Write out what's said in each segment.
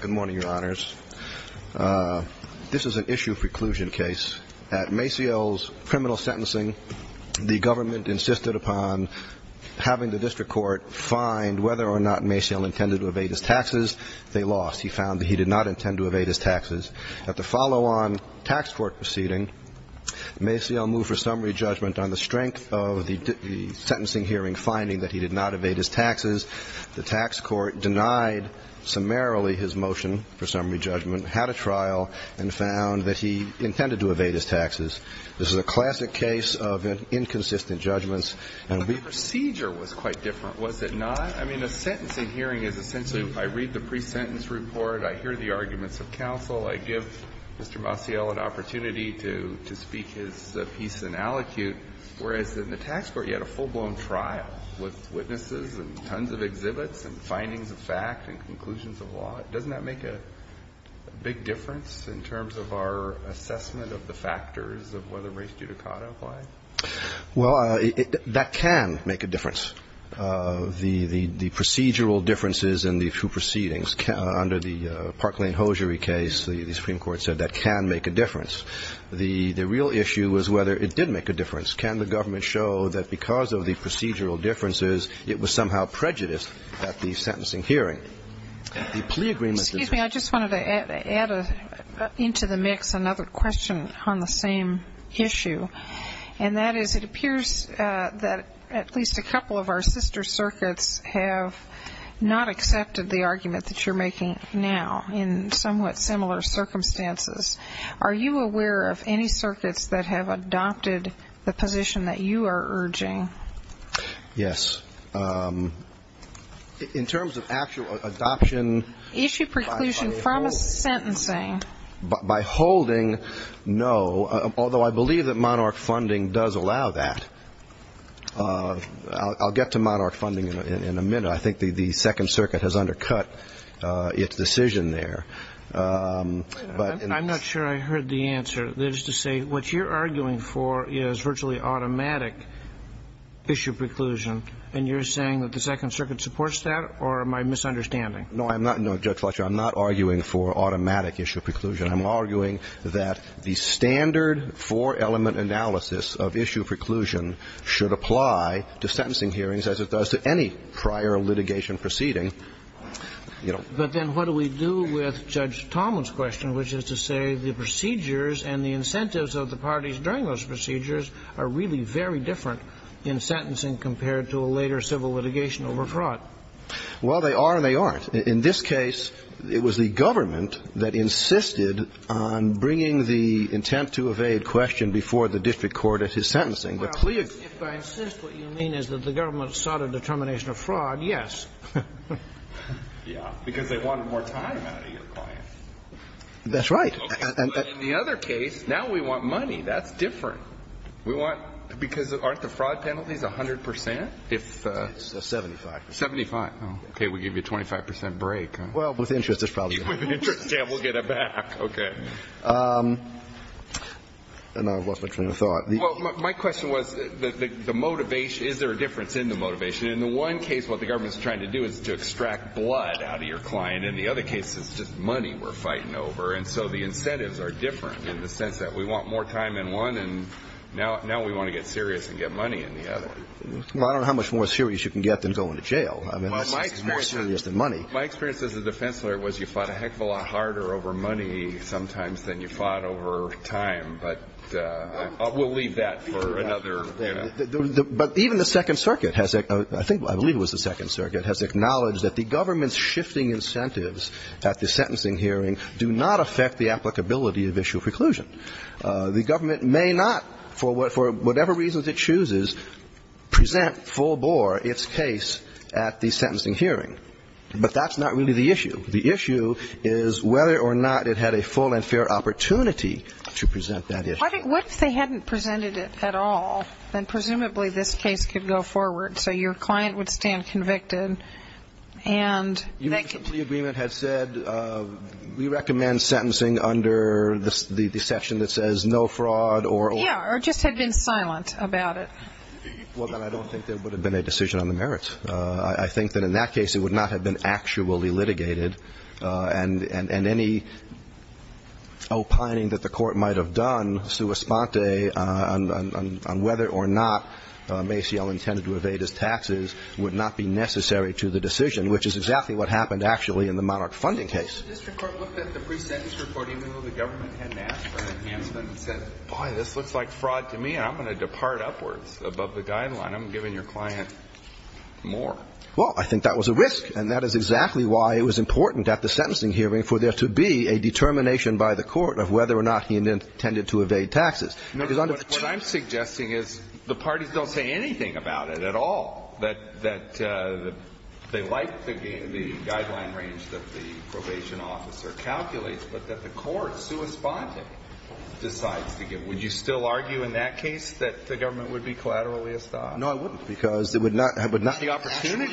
Good morning, Your Honors. This is an issue preclusion case. At Maciel's criminal sentencing, the government insisted upon having the district court find whether or not Maciel intended to evade his taxes. They lost. He found that he did not intend to evade his taxes. At the follow-on tax court proceeding, Maciel moved for summary judgment on the strength of the judgment. He did not evade his taxes. The tax court denied summarily his motion for summary judgment, had a trial, and found that he intended to evade his taxes. This is a classic case of inconsistent judgments. And we've ---- The procedure was quite different, was it not? I mean, a sentencing hearing is essentially I read the pre-sentence report, I hear the arguments of counsel, I give Mr. Maciel an opportunity to speak his piece in aliquot, whereas in the tax court you had a full-blown trial with witnesses and tons of exhibits and findings of fact and conclusions of law. Doesn't that make a big difference in terms of our assessment of the factors of whether race judicata apply? Well, that can make a difference. The procedural differences in the two proceedings under the Park Lane hosiery case, the Supreme Court said that can make a difference. The real issue was whether it did make a difference. Can the government show that because of the procedural differences it was somehow prejudiced at the sentencing hearing? The plea agreement is ---- Excuse me. I just wanted to add into the mix another question on the same issue, and that is it appears that at least a couple of our sister circuits have not accepted the argument that you're making now in somewhat similar circumstances. Are you aware of any Yes. In terms of actual adoption ---- Issue preclusion from a sentencing. By holding, no, although I believe that Monarch funding does allow that. I'll get to Monarch funding in a minute. I think the Second Circuit has undercut its decision there. I'm not sure I heard the answer. That is to say, what you're arguing for is virtually automatic issue preclusion, and you're saying that the Second Circuit supports that, or am I misunderstanding? No, I'm not. No, Judge Fletcher, I'm not arguing for automatic issue preclusion. I'm arguing that the standard four-element analysis of issue preclusion should apply to sentencing hearings as it does to any prior litigation proceeding. But then what do we do with Judge Talmon's question, which is to say the procedures and the incentives of the parties during those procedures are really very different in sentencing compared to a later civil litigation over fraud? Well, they are and they aren't. In this case, it was the government that insisted on bringing the intent to evade question before the district court at his sentencing. But please ---- Well, if I insist, what you mean is that the government sought a determination of fraud, yes. Yes, because they wanted more time out of your client. That's right. But in the other case, now we want money. That's different. We want ---- because aren't the fraud penalties 100 percent? It's 75. 75. Okay. We give you a 25 percent break. Well, with interest, there's probably ---- With interest, yeah, we'll get it back. Okay. And I've lost my train of thought. Well, my question was the motivation. Is there a difference in the motivation? In the one case, what the government is trying to do is to extract blood out of your client. In the other case, it's just money we're fighting over. And so the incentives are different in the sense that we want more time in one, and now we want to get serious and get money in the other. Well, I don't know how much more serious you can get than going to jail. I mean, that's more serious than money. My experience as a defense lawyer was you fought a heck of a lot harder over money sometimes than you fought over time. But we'll leave that for another, you know. But even the Second Circuit has ---- I think, I believe it was the Second Circuit has acknowledged that the government's shifting incentives at the sentencing hearing do not affect the applicability of issue of preclusion. The government may not, for whatever reasons it chooses, present full bore its case at the sentencing hearing. But that's not really the issue. The issue is whether or not it had a full and fair opportunity to present that issue. What if they hadn't presented it at all? Then presumably this case could go forward. So your client would stand convicted, and they could ---- If the agreement had said, we recommend sentencing under the section that says no fraud or ---- Yeah, or just had been silent about it. Well, then I don't think there would have been a decision on the merits. I think that in that case it would not have been actually litigated. And any opining that the Court might have done, sua sponte, on whether or not Maciel intended to evade his taxes would not be necessary to the decision, which is exactly what happened actually in the Monarch funding case. The district court looked at the pre-sentence report even though the government hadn't asked for an enhancement and said, boy, this looks like fraud to me, and I'm going to depart upwards above the guideline. I'm giving your client more. Well, I think that was a risk, and that is exactly why it was important at the sentencing hearing for there to be a determination by the Court of whether or not he intended to evade taxes. What I'm suggesting is the parties don't say anything about it at all, that they like the guideline range that the probation officer calculates, but that the Court, sua sponte, decides to give. Would you still argue in that case that the government would be collaterally assigned? No, I wouldn't, because it would not have been actually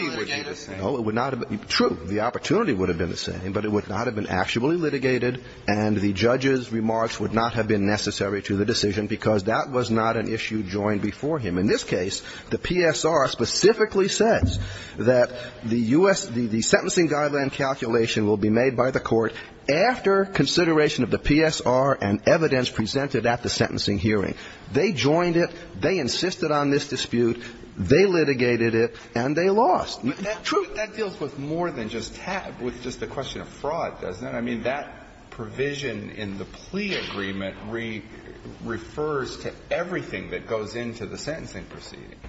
litigated. No, it would not have been the same. True, the opportunity would have been the same, but it would not have been actually litigated, and the judge's remarks would not have been necessary to the decision because that was not an issue joined before him. In this case, the PSR specifically says that the U.S. the sentencing guideline calculation will be made by the Court after consideration of the PSR and evidence presented at the sentencing hearing. They joined it, they insisted on this dispute, they litigated it, and they lost. True, that deals with more than just a question of fraud, doesn't it? I mean, that provision in the plea agreement refers to everything that goes into the sentencing proceeding.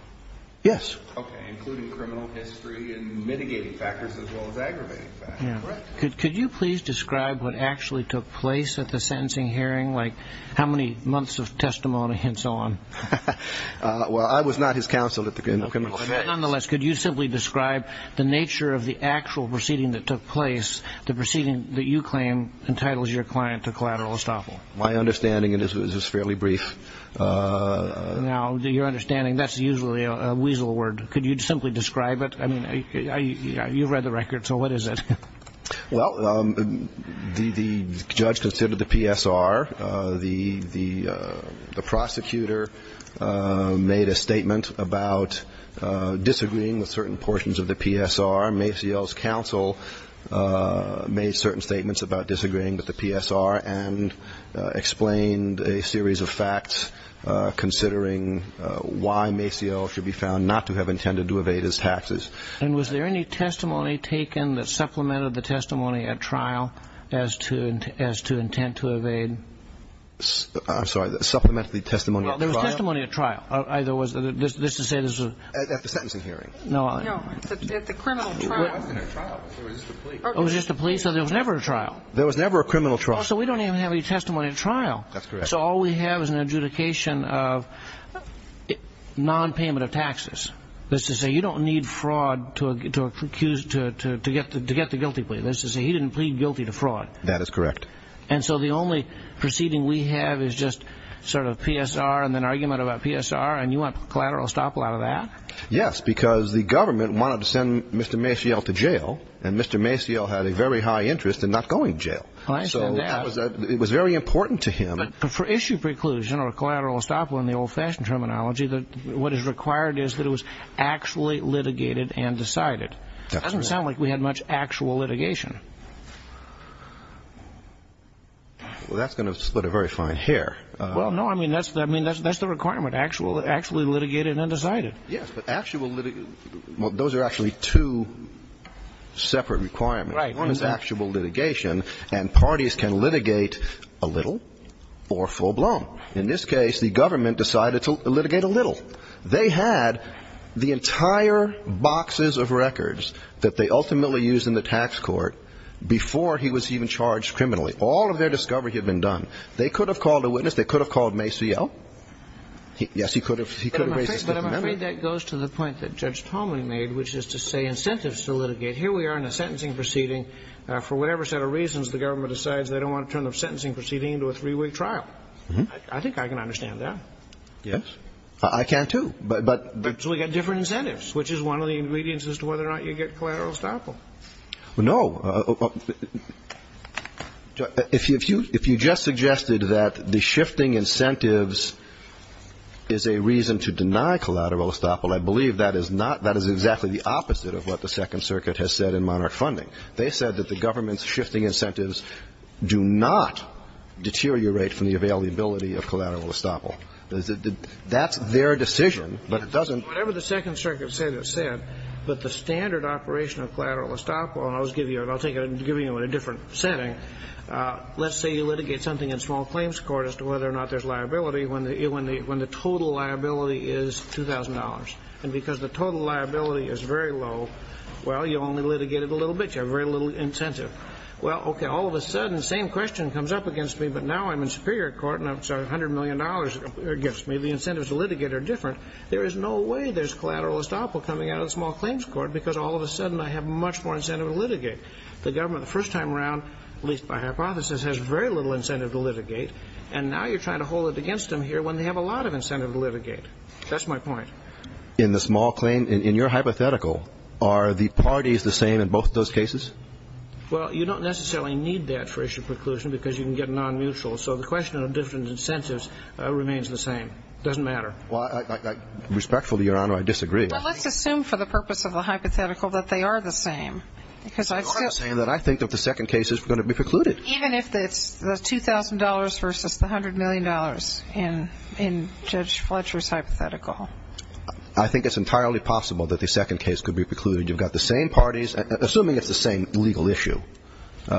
Yes. Okay, including criminal history and mitigating factors as well as aggravating factors, correct? Could you please describe what actually took place at the sentencing hearing, like how many months of testimony and so on? Well, I was not his counsel at the criminal case. Nonetheless, could you simply describe the nature of the actual proceeding that took place, the proceeding that you claim entitles your client to collateral estoppel? My understanding of this is fairly brief. Now, your understanding, that's usually a weasel word. Could you simply describe it? I mean, you've read the record, so what is it? Well, the judge considered the PSR. The prosecutor made a statement about disagreeing with certain portions of the PSR. Maciel's counsel made certain statements about disagreeing with the PSR and explained a series of facts considering why Maciel should be found not to have intended to evade his taxes. And was there any testimony taken that supplemented the testimony at trial as to intent to evade? I'm sorry, supplemented the testimony at trial? Well, there was testimony at trial. This is to say this was... At the sentencing hearing. No, at the criminal trial. It wasn't a trial. It was just a plea. It was just a plea, so there was never a trial. There was never a criminal trial. So we don't even have any testimony at trial. That's correct. So all we have is an adjudication of non-payment of taxes. That's to say, you don't need fraud to get the guilty plea. That's to say, he didn't plead guilty to fraud. That is correct. And so the only proceeding we have is just sort of PSR and then argument about PSR, and you want collateral estoppel out of that? Yes, because the government wanted to send Mr. Maciel to jail, and Mr. Maciel had a very high interest in not going to jail. So it was very important to him. But for issue preclusion or collateral estoppel in the old-fashioned terminology, what is required is that it was actually litigated and decided. It doesn't sound like we had much actual litigation. Well, that's going to split a very fine hair. Well, no, I mean, that's the requirement, actually litigated and decided. Yes, but actual litigation... Well, those are actually two separate requirements. One is actual litigation, and parties can litigate a little or full-blown. In this case, the government decided to litigate a little. They had the entire boxes of records that they ultimately used in the tax court before he was even charged criminally. All of their discovery had been done. They could have called a witness. They could have called Maciel. Yes, he could have raised a statement. But I'm afraid that goes to the point that Judge Tolman made, which is to say incentives to litigate. Here we are in a sentencing proceeding. For whatever set of reasons, the government decides they don't want to turn the sentencing proceeding into a three-week trial. I think I can understand that. Yes. I can, too. But... So we've got different incentives, which is one of the ingredients as to whether or not you get collateral estoppel. Well, no. If you just suggested that the shifting incentives is a reason to deny collateral estoppel, I believe that is not, that is exactly the opposite of what the Second Circuit has said in Monarch Funding. They said that the government's shifting incentives do not deteriorate from the availability of collateral estoppel. That's their decision, but it doesn't... Whatever the Second Circuit said, it said that the standard operation of collateral estoppel, and I'll just give you, I'll take it and give you it in a different setting, let's say you litigate something in small claims court as to whether or not there's liability when the total liability is $2,000. And because the total liability is very low, well, you only litigated a little bit. You have very little incentive. Well, okay, all of a sudden, the same question comes up against me, but now I'm in Superior Court and it's $100 million against me. The incentives to litigate are different. There is no way there's collateral estoppel coming out of the small claims court because all of a sudden I have much more incentive to litigate. The government, the first time around, at least by hypothesis, has very little incentive to litigate, and now you're trying to hold it against them here when they have a lot of incentive to litigate. That's my point. In the small claim, in your hypothetical, are the parties the same in both those cases? Well, you don't necessarily need that for issue preclusion because you can get non-mutual. So the question of different incentives remains the same. Doesn't matter. Well, I, I, I, respectfully, Your Honor, I disagree. Well, let's assume for the purpose of the hypothetical that they are the same. Because I've still. You are saying that I think that the second case is going to be precluded. Even if it's the $2,000 versus the $100 million in, in Judge Fletcher's hypothetical. I think it's entirely possible that the second case could be precluded. You've got the same parties, assuming it's the same legal issue, or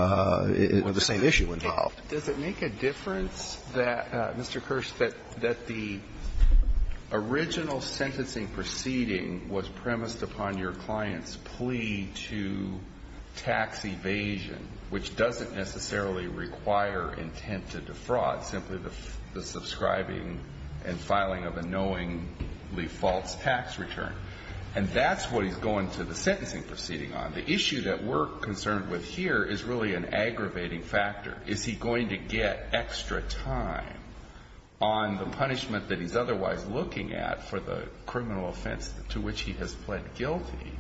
the same issue involved. Does it make a difference that, Mr. Kirsch, that, that the original sentencing proceeding was premised upon your client's plea to tax evasion, which doesn't necessarily require intent to defraud, simply the, the subscribing and filing of a knowingly false tax return. And that's what he's going to the sentencing proceeding on. The issue that we're concerned with here is really an aggravating factor. Is he going to get extra time on the punishment that he's otherwise looking at for the criminal offense to which he has pled guilty?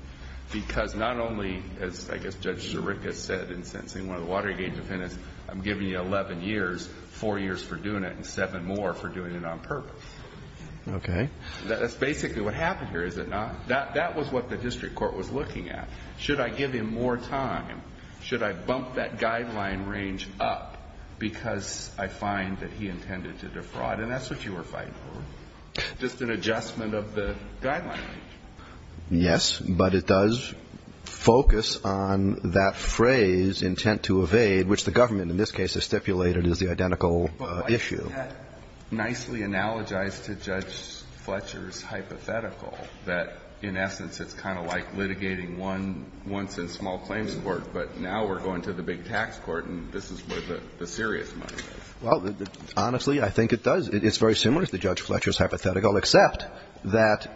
Because not only, as I guess Judge Zerrika said in sentencing, one of the Watergate defendants, I'm giving you 11 years, 4 years for doing it, and 7 more for doing it on purpose. Okay. That's basically what happened here, is it not? That, that was what the district court was looking at. Should I give him more time? Should I bump that guideline range up because I find that he intended to defraud? And that's what you were fighting for, just an adjustment of the guideline. Yes, but it does focus on that phrase, intent to evade, which the government in this case has stipulated is the identical issue. Isn't that nicely analogized to Judge Fletcher's hypothetical, that in essence it's kind of like litigating once in small claims court, but now we're going to the big tax court and this is where the serious money is? Well, honestly, I think it does. It's very similar to Judge Fletcher's hypothetical, except that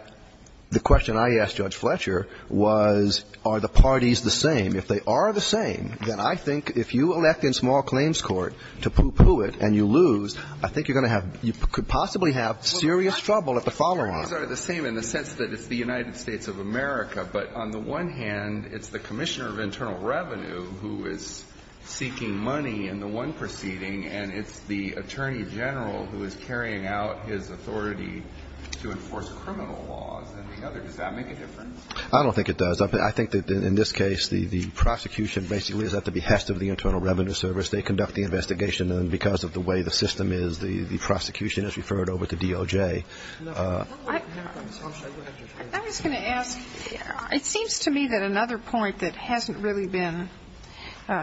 the question I asked Judge Fletcher was, are the parties the same? If they are the same, then I think if you elect in small claims court to poo-poo it and you lose, I think you're going to have, you could possibly have serious trouble at the follow-on. Well, the parties are the same in the sense that it's the United States of America, but on the one hand, it's the Commissioner of Internal Revenue who is seeking money in the one proceeding, and it's the Attorney General who is carrying out his authority to enforce criminal laws in the other. Does that make a difference? I don't think it does. I think that in this case, the prosecution basically is at the behest of the Internal Revenue Service. They conduct the investigation, and because of the way the system is, the prosecution is referred over to DOJ. I was going to ask, it seems to me that another point that hasn't really been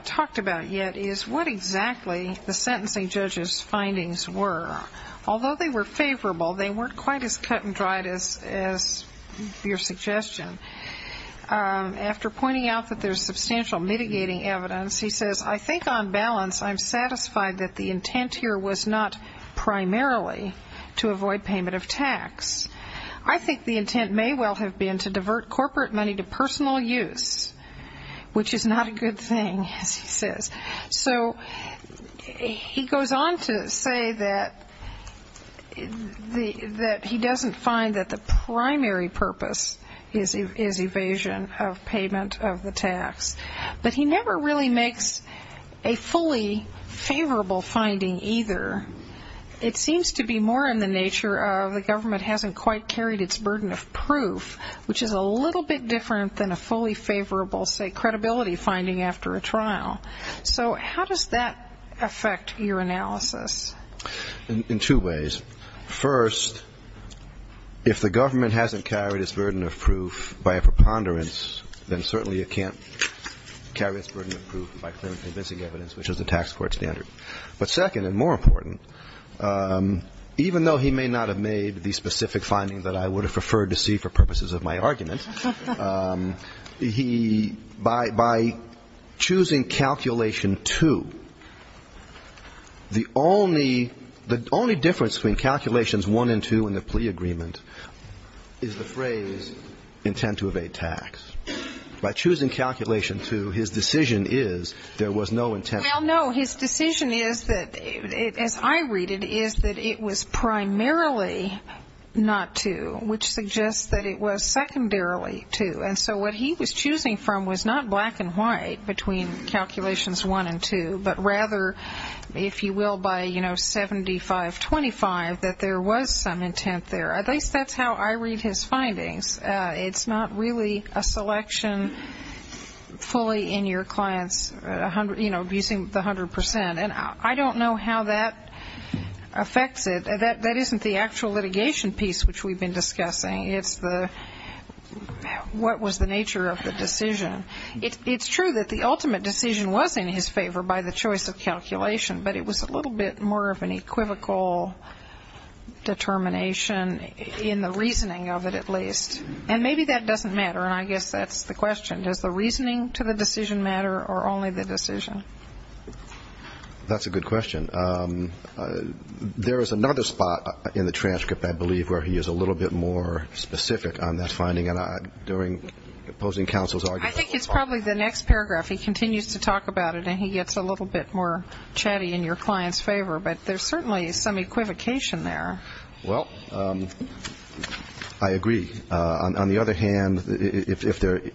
talked about yet is what exactly the sentencing judge's findings were. Although they were favorable, they weren't quite as cut and dried as your suggestion. After pointing out that there's substantial mitigating evidence, he says, I think on balance, I'm satisfied that the intent here was not primarily to avoid payment of tax. I think the intent may well have been to divert corporate money to personal use, which is not a good thing, as he says. So he goes on to say that he doesn't find that the primary purpose is evasion of payment of the tax, but he never really makes a fully favorable finding either. It seems to be more in the nature of the government hasn't quite carried its burden of proof, which is a little bit different than a fully favorable, say, credibility finding after a trial. So how does that affect your analysis? In two ways. First, if the government hasn't carried its burden of proof by a preponderance, then certainly it can't carry its burden of proof by convincing evidence, which is a tax court standard. But second and more important, even though he may not have made the specific finding that I would have preferred to see for purposes of my argument, he, by choosing calculation 2, the only difference between calculations 1 and 2 in the plea agreement is the phrase, intent to evade tax. By choosing calculation 2, his decision is there was no intent to evade tax. Well, no, his decision is that, as I read it, is that it was primarily not 2, which suggests that it was secondarily 2. And so what he was choosing from was not black and white between calculations 1 and 2, but rather, if you will, by, you know, 75-25, that there was some intent there. At least that's how I read his findings. It's not really a selection fully in your client's, you know, abusing the 100%. And I don't know how that affects it. That isn't the actual litigation piece which we've been discussing. It's the what was the nature of the decision. It's true that the ultimate decision was in his favor by the choice of calculation, but it was a little bit more of an equivocal determination in the reasoning of it at least. And maybe that doesn't matter, and I guess that's the question. Does the reasoning to the decision matter or only the decision? That's a good question. There is another spot in the transcript, I believe, where he is a little bit more specific on that finding, and during opposing counsel's argument. I think it's probably the next paragraph. He continues to talk about it, and he gets a little bit more chatty in your client's favor. But there's certainly some equivocation there. Well, I agree. On the other hand, if the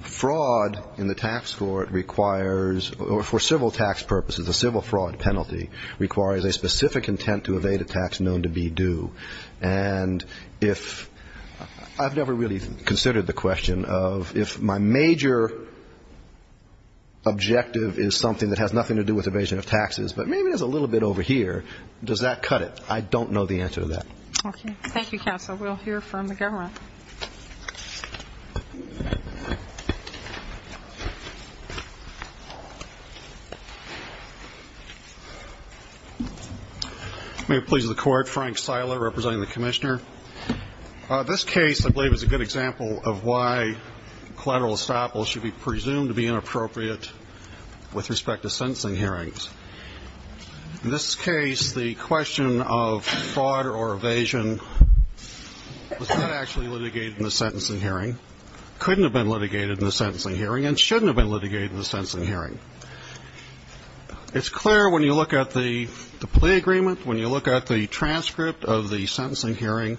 fraud in the tax court requires, or for civil tax purposes, a civil fraud penalty, requires a specific intent to evade a tax known to be due, and if I've never really considered the question of if my major objective is something that has nothing to do with evasion of taxes, but maybe there's a little bit over here, does that cut it? I don't know the answer to that. Thank you, counsel. We'll hear from the government. May it please the Court. Frank Sila, representing the Commissioner. This case, I believe, is a good example of why collateral estoppel should be presumed to be inappropriate with respect to sentencing hearings. In this case, the question of fraud or evasion was not actually litigated in the sentencing hearing, couldn't have been litigated in the sentencing hearing, and shouldn't have been litigated in the sentencing hearing. It's clear when you look at the plea agreement, when you look at the transcript of the sentencing hearing,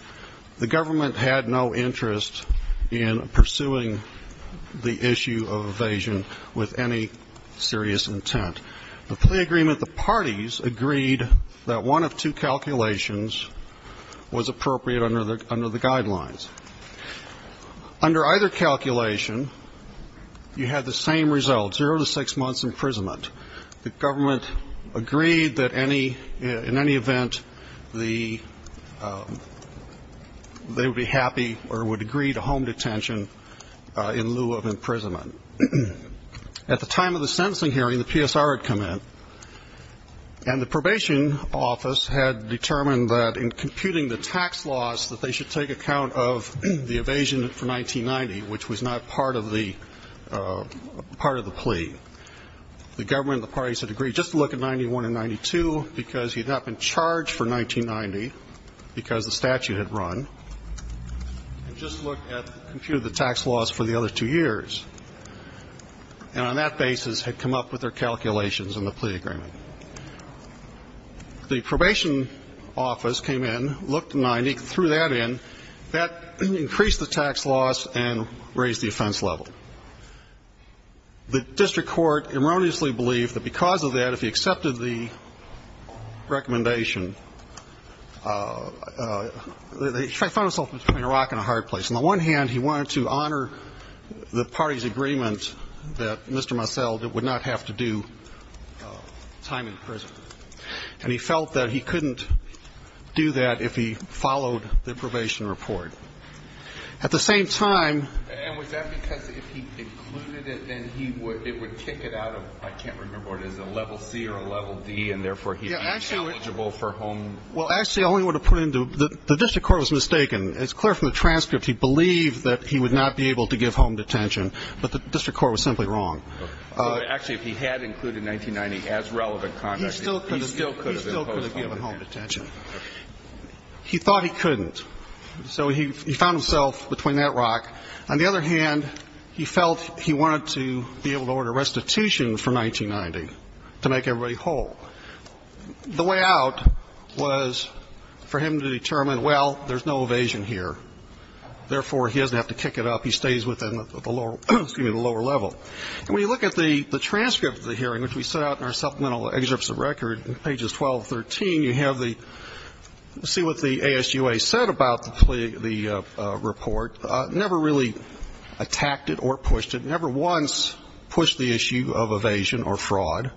the government had no interest in pursuing the issue of evasion with any serious intent. The plea agreement, the parties agreed that one of two calculations was appropriate under the guidelines. Under either calculation, you had the same result, zero to six months imprisonment. The government agreed that in any event, they would be happy or would agree to home detention in lieu of imprisonment. At the time of the sentencing hearing, the PSR had come in, and the probation office had determined that in computing the tax laws, that they should take account of the evasion for 1990, which was not part of the plea. The government and the parties had agreed just to look at 1991 and 1992, because he had not been charged for 1990, because the statute had run, and just looked at the tax laws for the other two years. And on that basis, had come up with their calculations in the plea agreement. The probation office came in, looked at 1990, threw that in, that increased the tax laws and raised the offense level. The district court erroneously believed that because of that, if he accepted the recommendation, he found himself between a rock and a hard place. On the one hand, he wanted to honor the parties' agreement that Mr. Massell would not have to do time in prison. And he felt that he couldn't do that if he followed the probation report. At the same time... And was that because if he included it, then it would kick it out of, I can't remember what it is, a level C or a level D, and therefore he would be ineligible for home... Well, actually, the district court was mistaken. It's clear from the transcript he believed that he would not be able to give home detention, but the district court was simply wrong. Actually, if he had included 1990 as relevant conduct... He still could have given home detention. He thought he couldn't, so he found himself between that rock. On the other hand, he felt he wanted to be able to order restitution for 1990 to make everybody whole. The way out was for him to determine, well, there's no evasion here, therefore he doesn't have to kick it up, he stays within the lower level. And when you look at the transcript of the hearing, which we set out in our supplemental excerpts of record, pages 12 to 13, you have the... See what the ASUA said about the report. Never really attacked it or pushed it. Never once pushed the issue of evasion or fraud.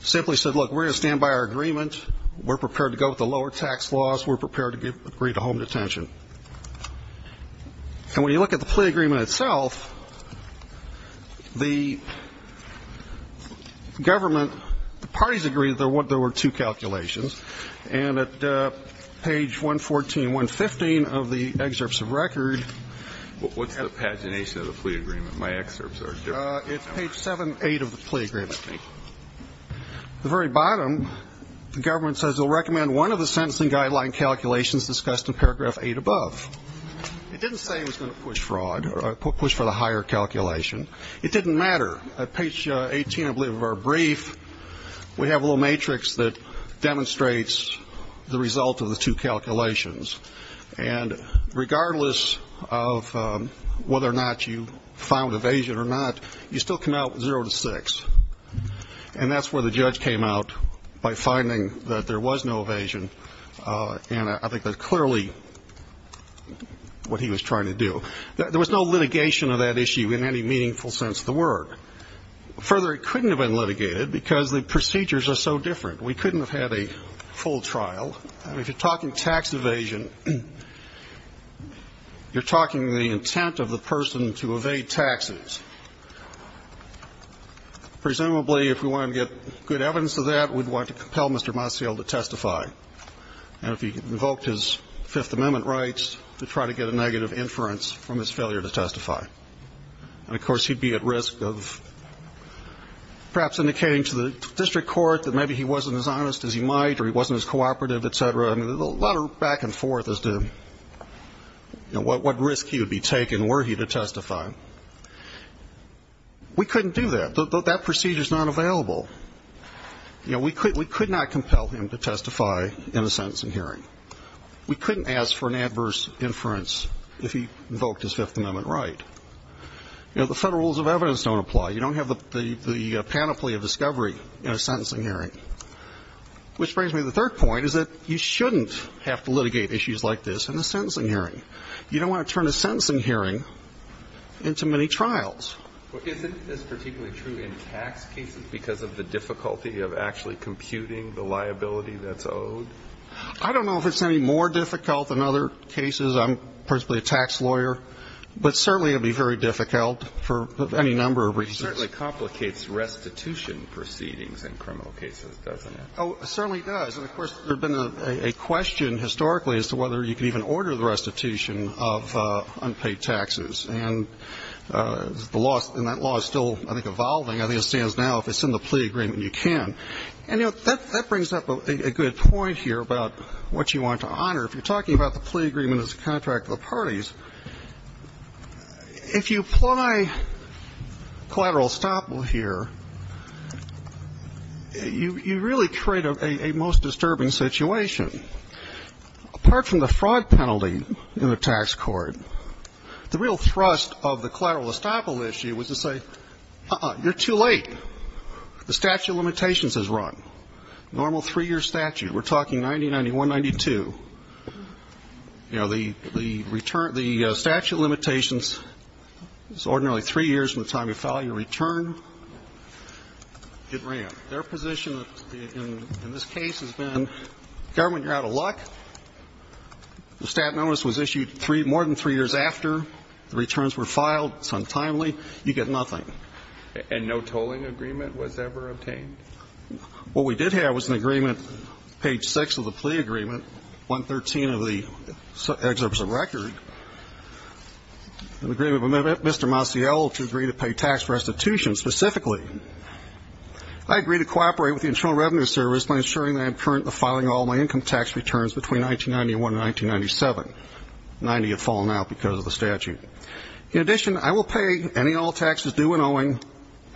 Simply said, look, we're going to stand by our agreement, we're prepared to go with the lower tax laws, we're prepared to agree to home detention. And when you look at the plea agreement itself, the government... The parties agreed there were two calculations. And at page 114, 115 of the excerpts of record... What's the pagination of the plea agreement? My excerpts are different. It's page 78 of the plea agreement. At the very bottom, the government says, we'll recommend one of the sentencing guideline calculations discussed in paragraph 8 above. It didn't say it was going to push for the higher calculation. It didn't matter. At page 18, I believe, of our brief, we have a little matrix that demonstrates the result of the two calculations. And regardless of whether or not you found evasion or not, you still come out 0 to 6. And that's where the judge came out by finding that there was no evasion. And I think that's clearly what he was trying to do. There was no litigation of that issue in any meaningful sense of the word. Further, it couldn't have been litigated because the procedures are so different. We couldn't have had a full trial. If you're talking tax evasion, you're talking the intent of the person to evade taxes. Presumably, if we wanted to get good evidence of that, we'd want to compel Mr. Mossial to testify. And if he invoked his Fifth Amendment rights to try to get a negative inference from his failure to testify. And, of course, he'd be at risk of perhaps indicating to the district court that maybe he wasn't as honest as he might or he wasn't as cooperative, etc. I mean, a lot of back and forth as to what risk he would be taking were he to testify. We couldn't do that. That procedure's not available. We could not compel him to testify in a sentencing hearing. We couldn't ask for an adverse inference if he invoked his Fifth Amendment right. The federal rules of evidence don't apply. You don't have the panoply of discovery in a sentencing hearing. Which brings me to the third point. You shouldn't have to litigate issues like this in a sentencing hearing. You don't want to turn a sentencing hearing into many trials. I don't know if it's any more difficult than other cases. I'm principally a tax lawyer. But certainly it would be very difficult for any number of reasons. It certainly complicates restitution proceedings in criminal cases, doesn't it? Oh, it certainly does. And, of course, there's been a question historically as to whether you can even order the restitution of unpaid taxes. And that law is still, I think, evolving. I think it stands now, if it's in the plea agreement, you can. And that brings up a good point here about what you want to honor. If you're talking about the plea agreement as a contract of the parties, if you apply collateral estoppel here, you really create a most disturbing situation. Apart from the fraud penalty in the tax court, the real thrust of the collateral estoppel issue was to say, uh-uh, you're too late. The statute of limitations has run. Normal three-year statute. We're talking 1991-92. You know, the statute of limitations is ordinarily three years from the time you file your return. It ran. Their position in this case has been government, you're out of luck. The stat notice was issued more than three years after the returns were filed, it's untimely, you get nothing. And no tolling agreement was ever obtained? What we did have was an agreement, page 6 of the plea agreement, 113 of the excerpts of record, an agreement with Mr. Maciel to agree to pay tax restitution specifically. I agree to cooperate with the Internal Revenue Service by ensuring that I am currently filing all my income tax returns between 1991 and 1997. 90 have fallen out because of the statute. In addition, I will pay any and all taxes due and owing,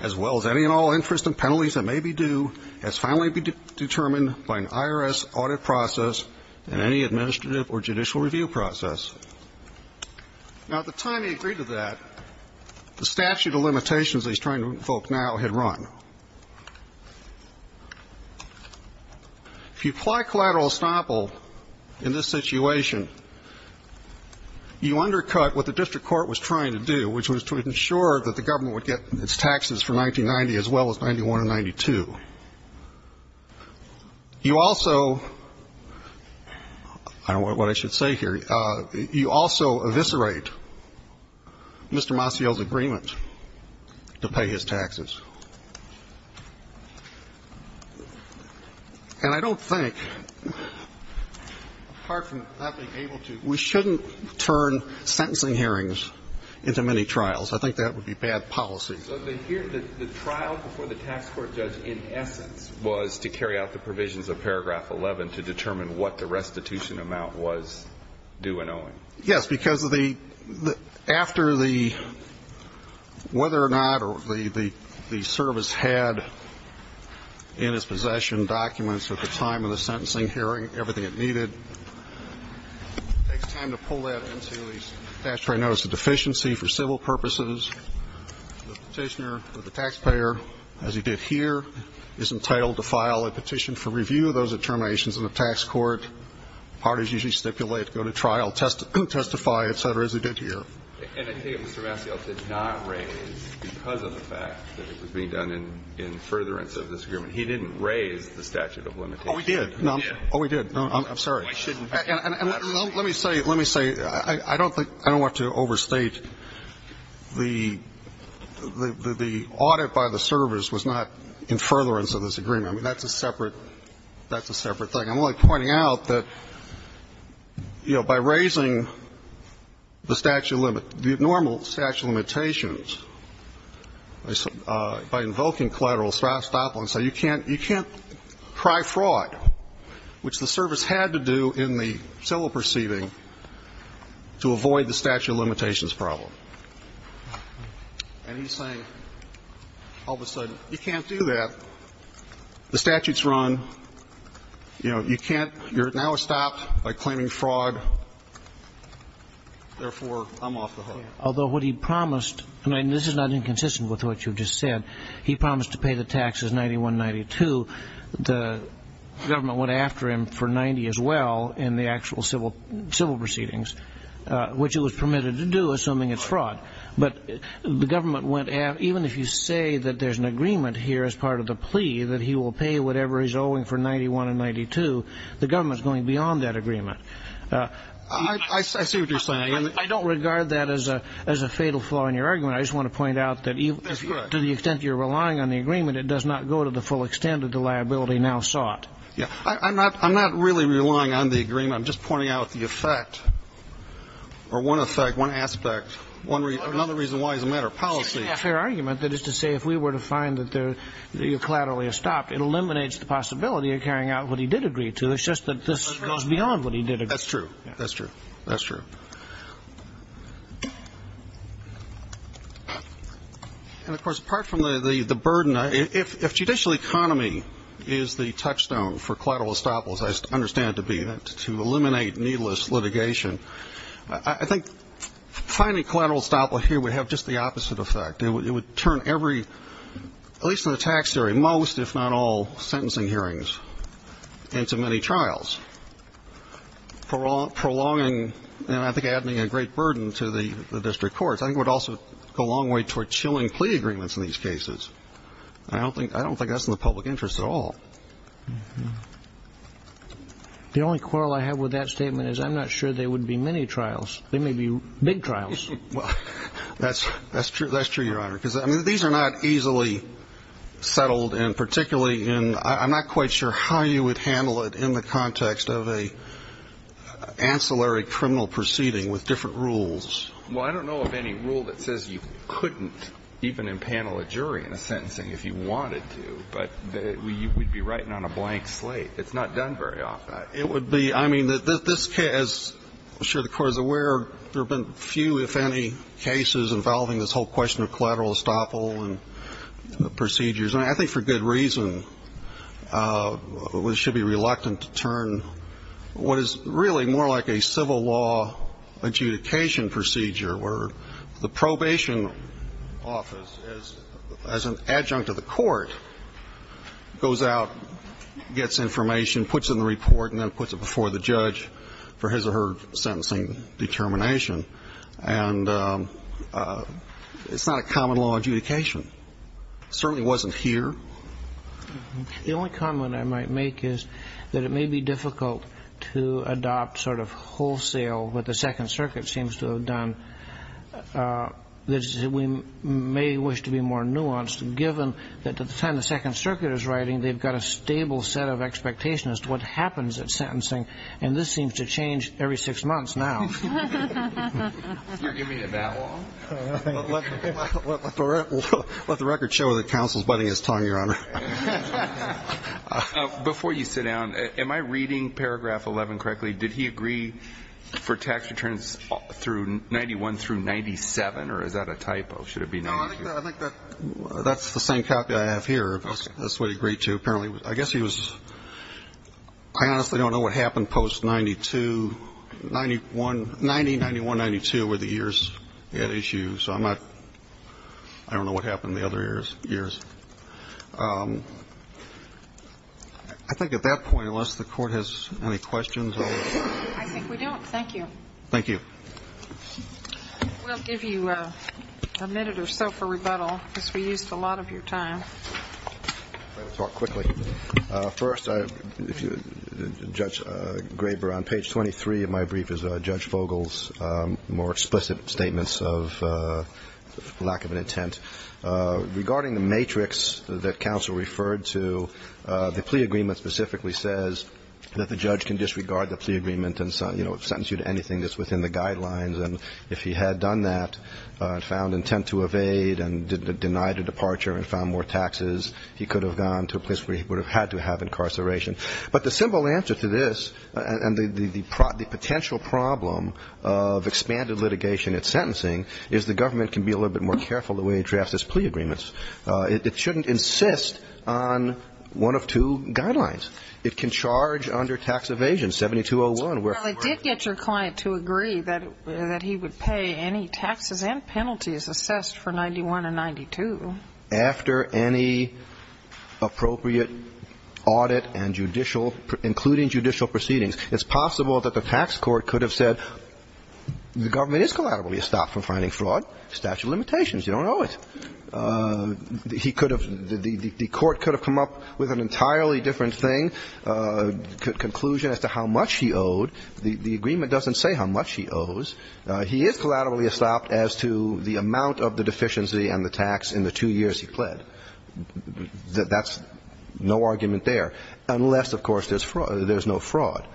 as well as any and all interest and penalties that may be due, as finally determined by an IRS audit process and any administrative or judicial review process. Now, at the time he agreed to that, the statute of limitations he's trying to invoke now had run. If you apply collateral estoppel in this situation, you undercut what the district court was trying to do, which was to ensure that the government would get its taxes for 1990 as well as 91 and 92. You also I don't know what I should say here. You also eviscerate Mr. Maciel's agreement to pay his taxes. And I don't think, apart from not being able to, we shouldn't turn sentencing hearings into many trials. I think that would be bad policy. The trial before the tax court judge in essence was to carry out the provisions of paragraph 11 to determine what the restitution amount was due and owing. Yes, because after the whether or not the service had in its possession documents at the time of the sentencing hearing everything it needed, it takes time to pull that into the statutory notice of deficiency for civil purposes. The petitioner or the taxpayer, as he did here, is entitled to file a petition for review of those determinations in the tax court. Parties usually stipulate, go to trial, testify, et cetera, as he did here. And I think Mr. Maciel did not raise, because of the fact that it was being done in furtherance of this agreement, he didn't raise the statute of limitations. Oh, he did. Oh, he did. I'm sorry. Why shouldn't he? Let me say, let me say, I don't think, I don't want to overstate, the audit by the service was not in furtherance of this agreement. I mean, that's a separate, that's a separate thing. I'm only pointing out that, you know, by raising the statute of limit, the normal statute of limitations, by invoking collateral estoppel, so you can't, you can't pry fraud, which the service had to do in the civil proceeding to avoid the statute of limitations problem. And he's saying, all of a sudden, you can't do that. The statute's run. You know, you can't, you're now stopped by claiming fraud. Therefore, I'm off the hook. Although what he promised, and this is not inconsistent with what you just said, he promised to pay the taxes 91-92. The government went after him for 90 as well, in the actual civil proceedings, which it was permitted to do, assuming it's fraud. But the government went after, even if you say that there's an agreement here as part of the plea, that he will pay whatever he's owing for 91 and 92, the government's going beyond that agreement. I see what you're saying. I don't regard that as a fatal flaw in your argument. I just want to point out that, to the extent you're relying on the agreement, it does not go to the full extent that the liability now sought. Yeah. I'm not really relying on the agreement. I'm just pointing out the effect, or one effect, one aspect, another reason why it's a matter of policy. It's a fair argument, that is to say, if we were to find that you're collaterally stopped, it eliminates the possibility of carrying out what he did agree to. It's just that this goes beyond what he did agree to. That's true. That's true. That's true. And, of course, apart from the burden, if judicial economy is the touchstone for collateral estoppel, as I understand it to be, to eliminate needless litigation, I think finding collateral estoppel here would have just the opposite effect. It would turn every, at least in the tax theory, most, if not all, sentencing hearings into many trials, prolonging and, I think, adding a great burden to the district courts. I think it would also go a long way toward chilling plea agreements in these cases. I don't think that's in the public interest at all. The only quarrel I have with that statement is I'm not sure there would be many trials. There may be big trials. Well, that's true, Your Honor. Because, I mean, these are not easily settled, and particularly I'm not quite sure how you would handle it in the context of an ancillary criminal proceeding with different rules. Well, I don't know of any rule that says you couldn't even impanel a jury in a sentencing if you wanted to, but you would be writing on a blank slate. It's not done very often. It would be. I mean, this case, as I'm sure the Court is aware, there have been few, if any, cases involving this whole question of collateral estoppel and procedures. And I think for good reason we should be reluctant to turn what is really more like a civil law adjudication procedure where the probation office, as an adjunct of the court, goes out, gets information, puts it in the report, and then puts it before the judge for his or her sentencing determination. And it's not a common law adjudication. It certainly wasn't here. The only comment I might make is that it may be difficult to adopt sort of wholesale what the Second Circuit seems to have done. We may wish to be more nuanced, given that at the time the Second Circuit is writing, they've got a stable set of expectations as to what happens at sentencing, and this seems to change every six months now. You're giving it that long? Let the record show that counsel is biting his tongue, Your Honor. Before you sit down, am I reading paragraph 11 correctly? Did he agree for tax returns through 91 through 97, or is that a typo? Should it be 92? No, I think that's the same copy I have here. That's what he agreed to, apparently. I guess he was – I honestly don't know what happened post-92. 90, 91, 92 were the years at issue, so I'm not – I don't know what happened the other years. I think at that point, unless the Court has any questions. I think we don't. Thank you. Thank you. We'll give you a minute or so for rebuttal, because we used a lot of your time. Let me talk quickly. First, Judge Graber, on page 23 of my brief is Judge Fogel's more explicit statements of lack of an intent. Regarding the matrix that counsel referred to, the plea agreement specifically says that the judge can disregard the plea agreement and, you know, sentence you to anything that's within the guidelines, and if he had done that and found intent to evade and denied a departure and found more taxes, he could have gone to a place where he would have had to have incarceration. But the simple answer to this, and the potential problem of expanded litigation at sentencing, is the government can be a little bit more careful the way it drafts its plea agreements. It shouldn't insist on one of two guidelines. It can charge under tax evasion, 7201. Well, it did get your client to agree that he would pay any taxes and penalties assessed for 91 and 92. After any appropriate audit and judicial – including judicial proceedings, it's possible that the tax court could have said the government is collaterally estopped from finding fraud, statute of limitations, you don't owe it. He could have – the court could have come up with an entirely different thing, conclusion as to how much he owed. The agreement doesn't say how much he owes. He is collaterally estopped as to the amount of the deficiency and the tax in the two years he pled. That's no argument there, unless, of course, there's no fraud.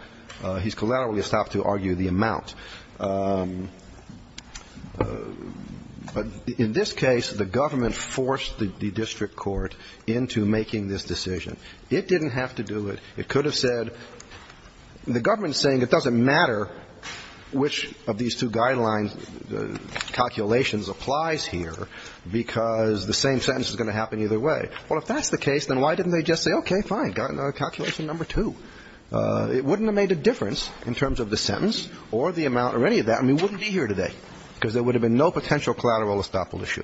He's collaterally estopped to argue the amount. In this case, the government forced the district court into making this decision. It didn't have to do it. It could have said the government is saying it doesn't matter which of these two guidelines calculations applies here because the same sentence is going to happen either way. Well, if that's the case, then why didn't they just say, okay, fine, got another calculation number two? It wouldn't have made a difference in terms of the sentence or the amount or any of that, and we wouldn't be here today because there would have been no potential collateral estoppel issue.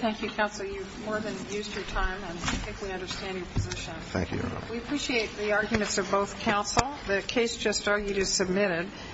Thank you, counsel. You've more than used your time and I think we understand your position. Thank you, Your Honor. We appreciate the arguments of both counsel. The case just argued is submitted.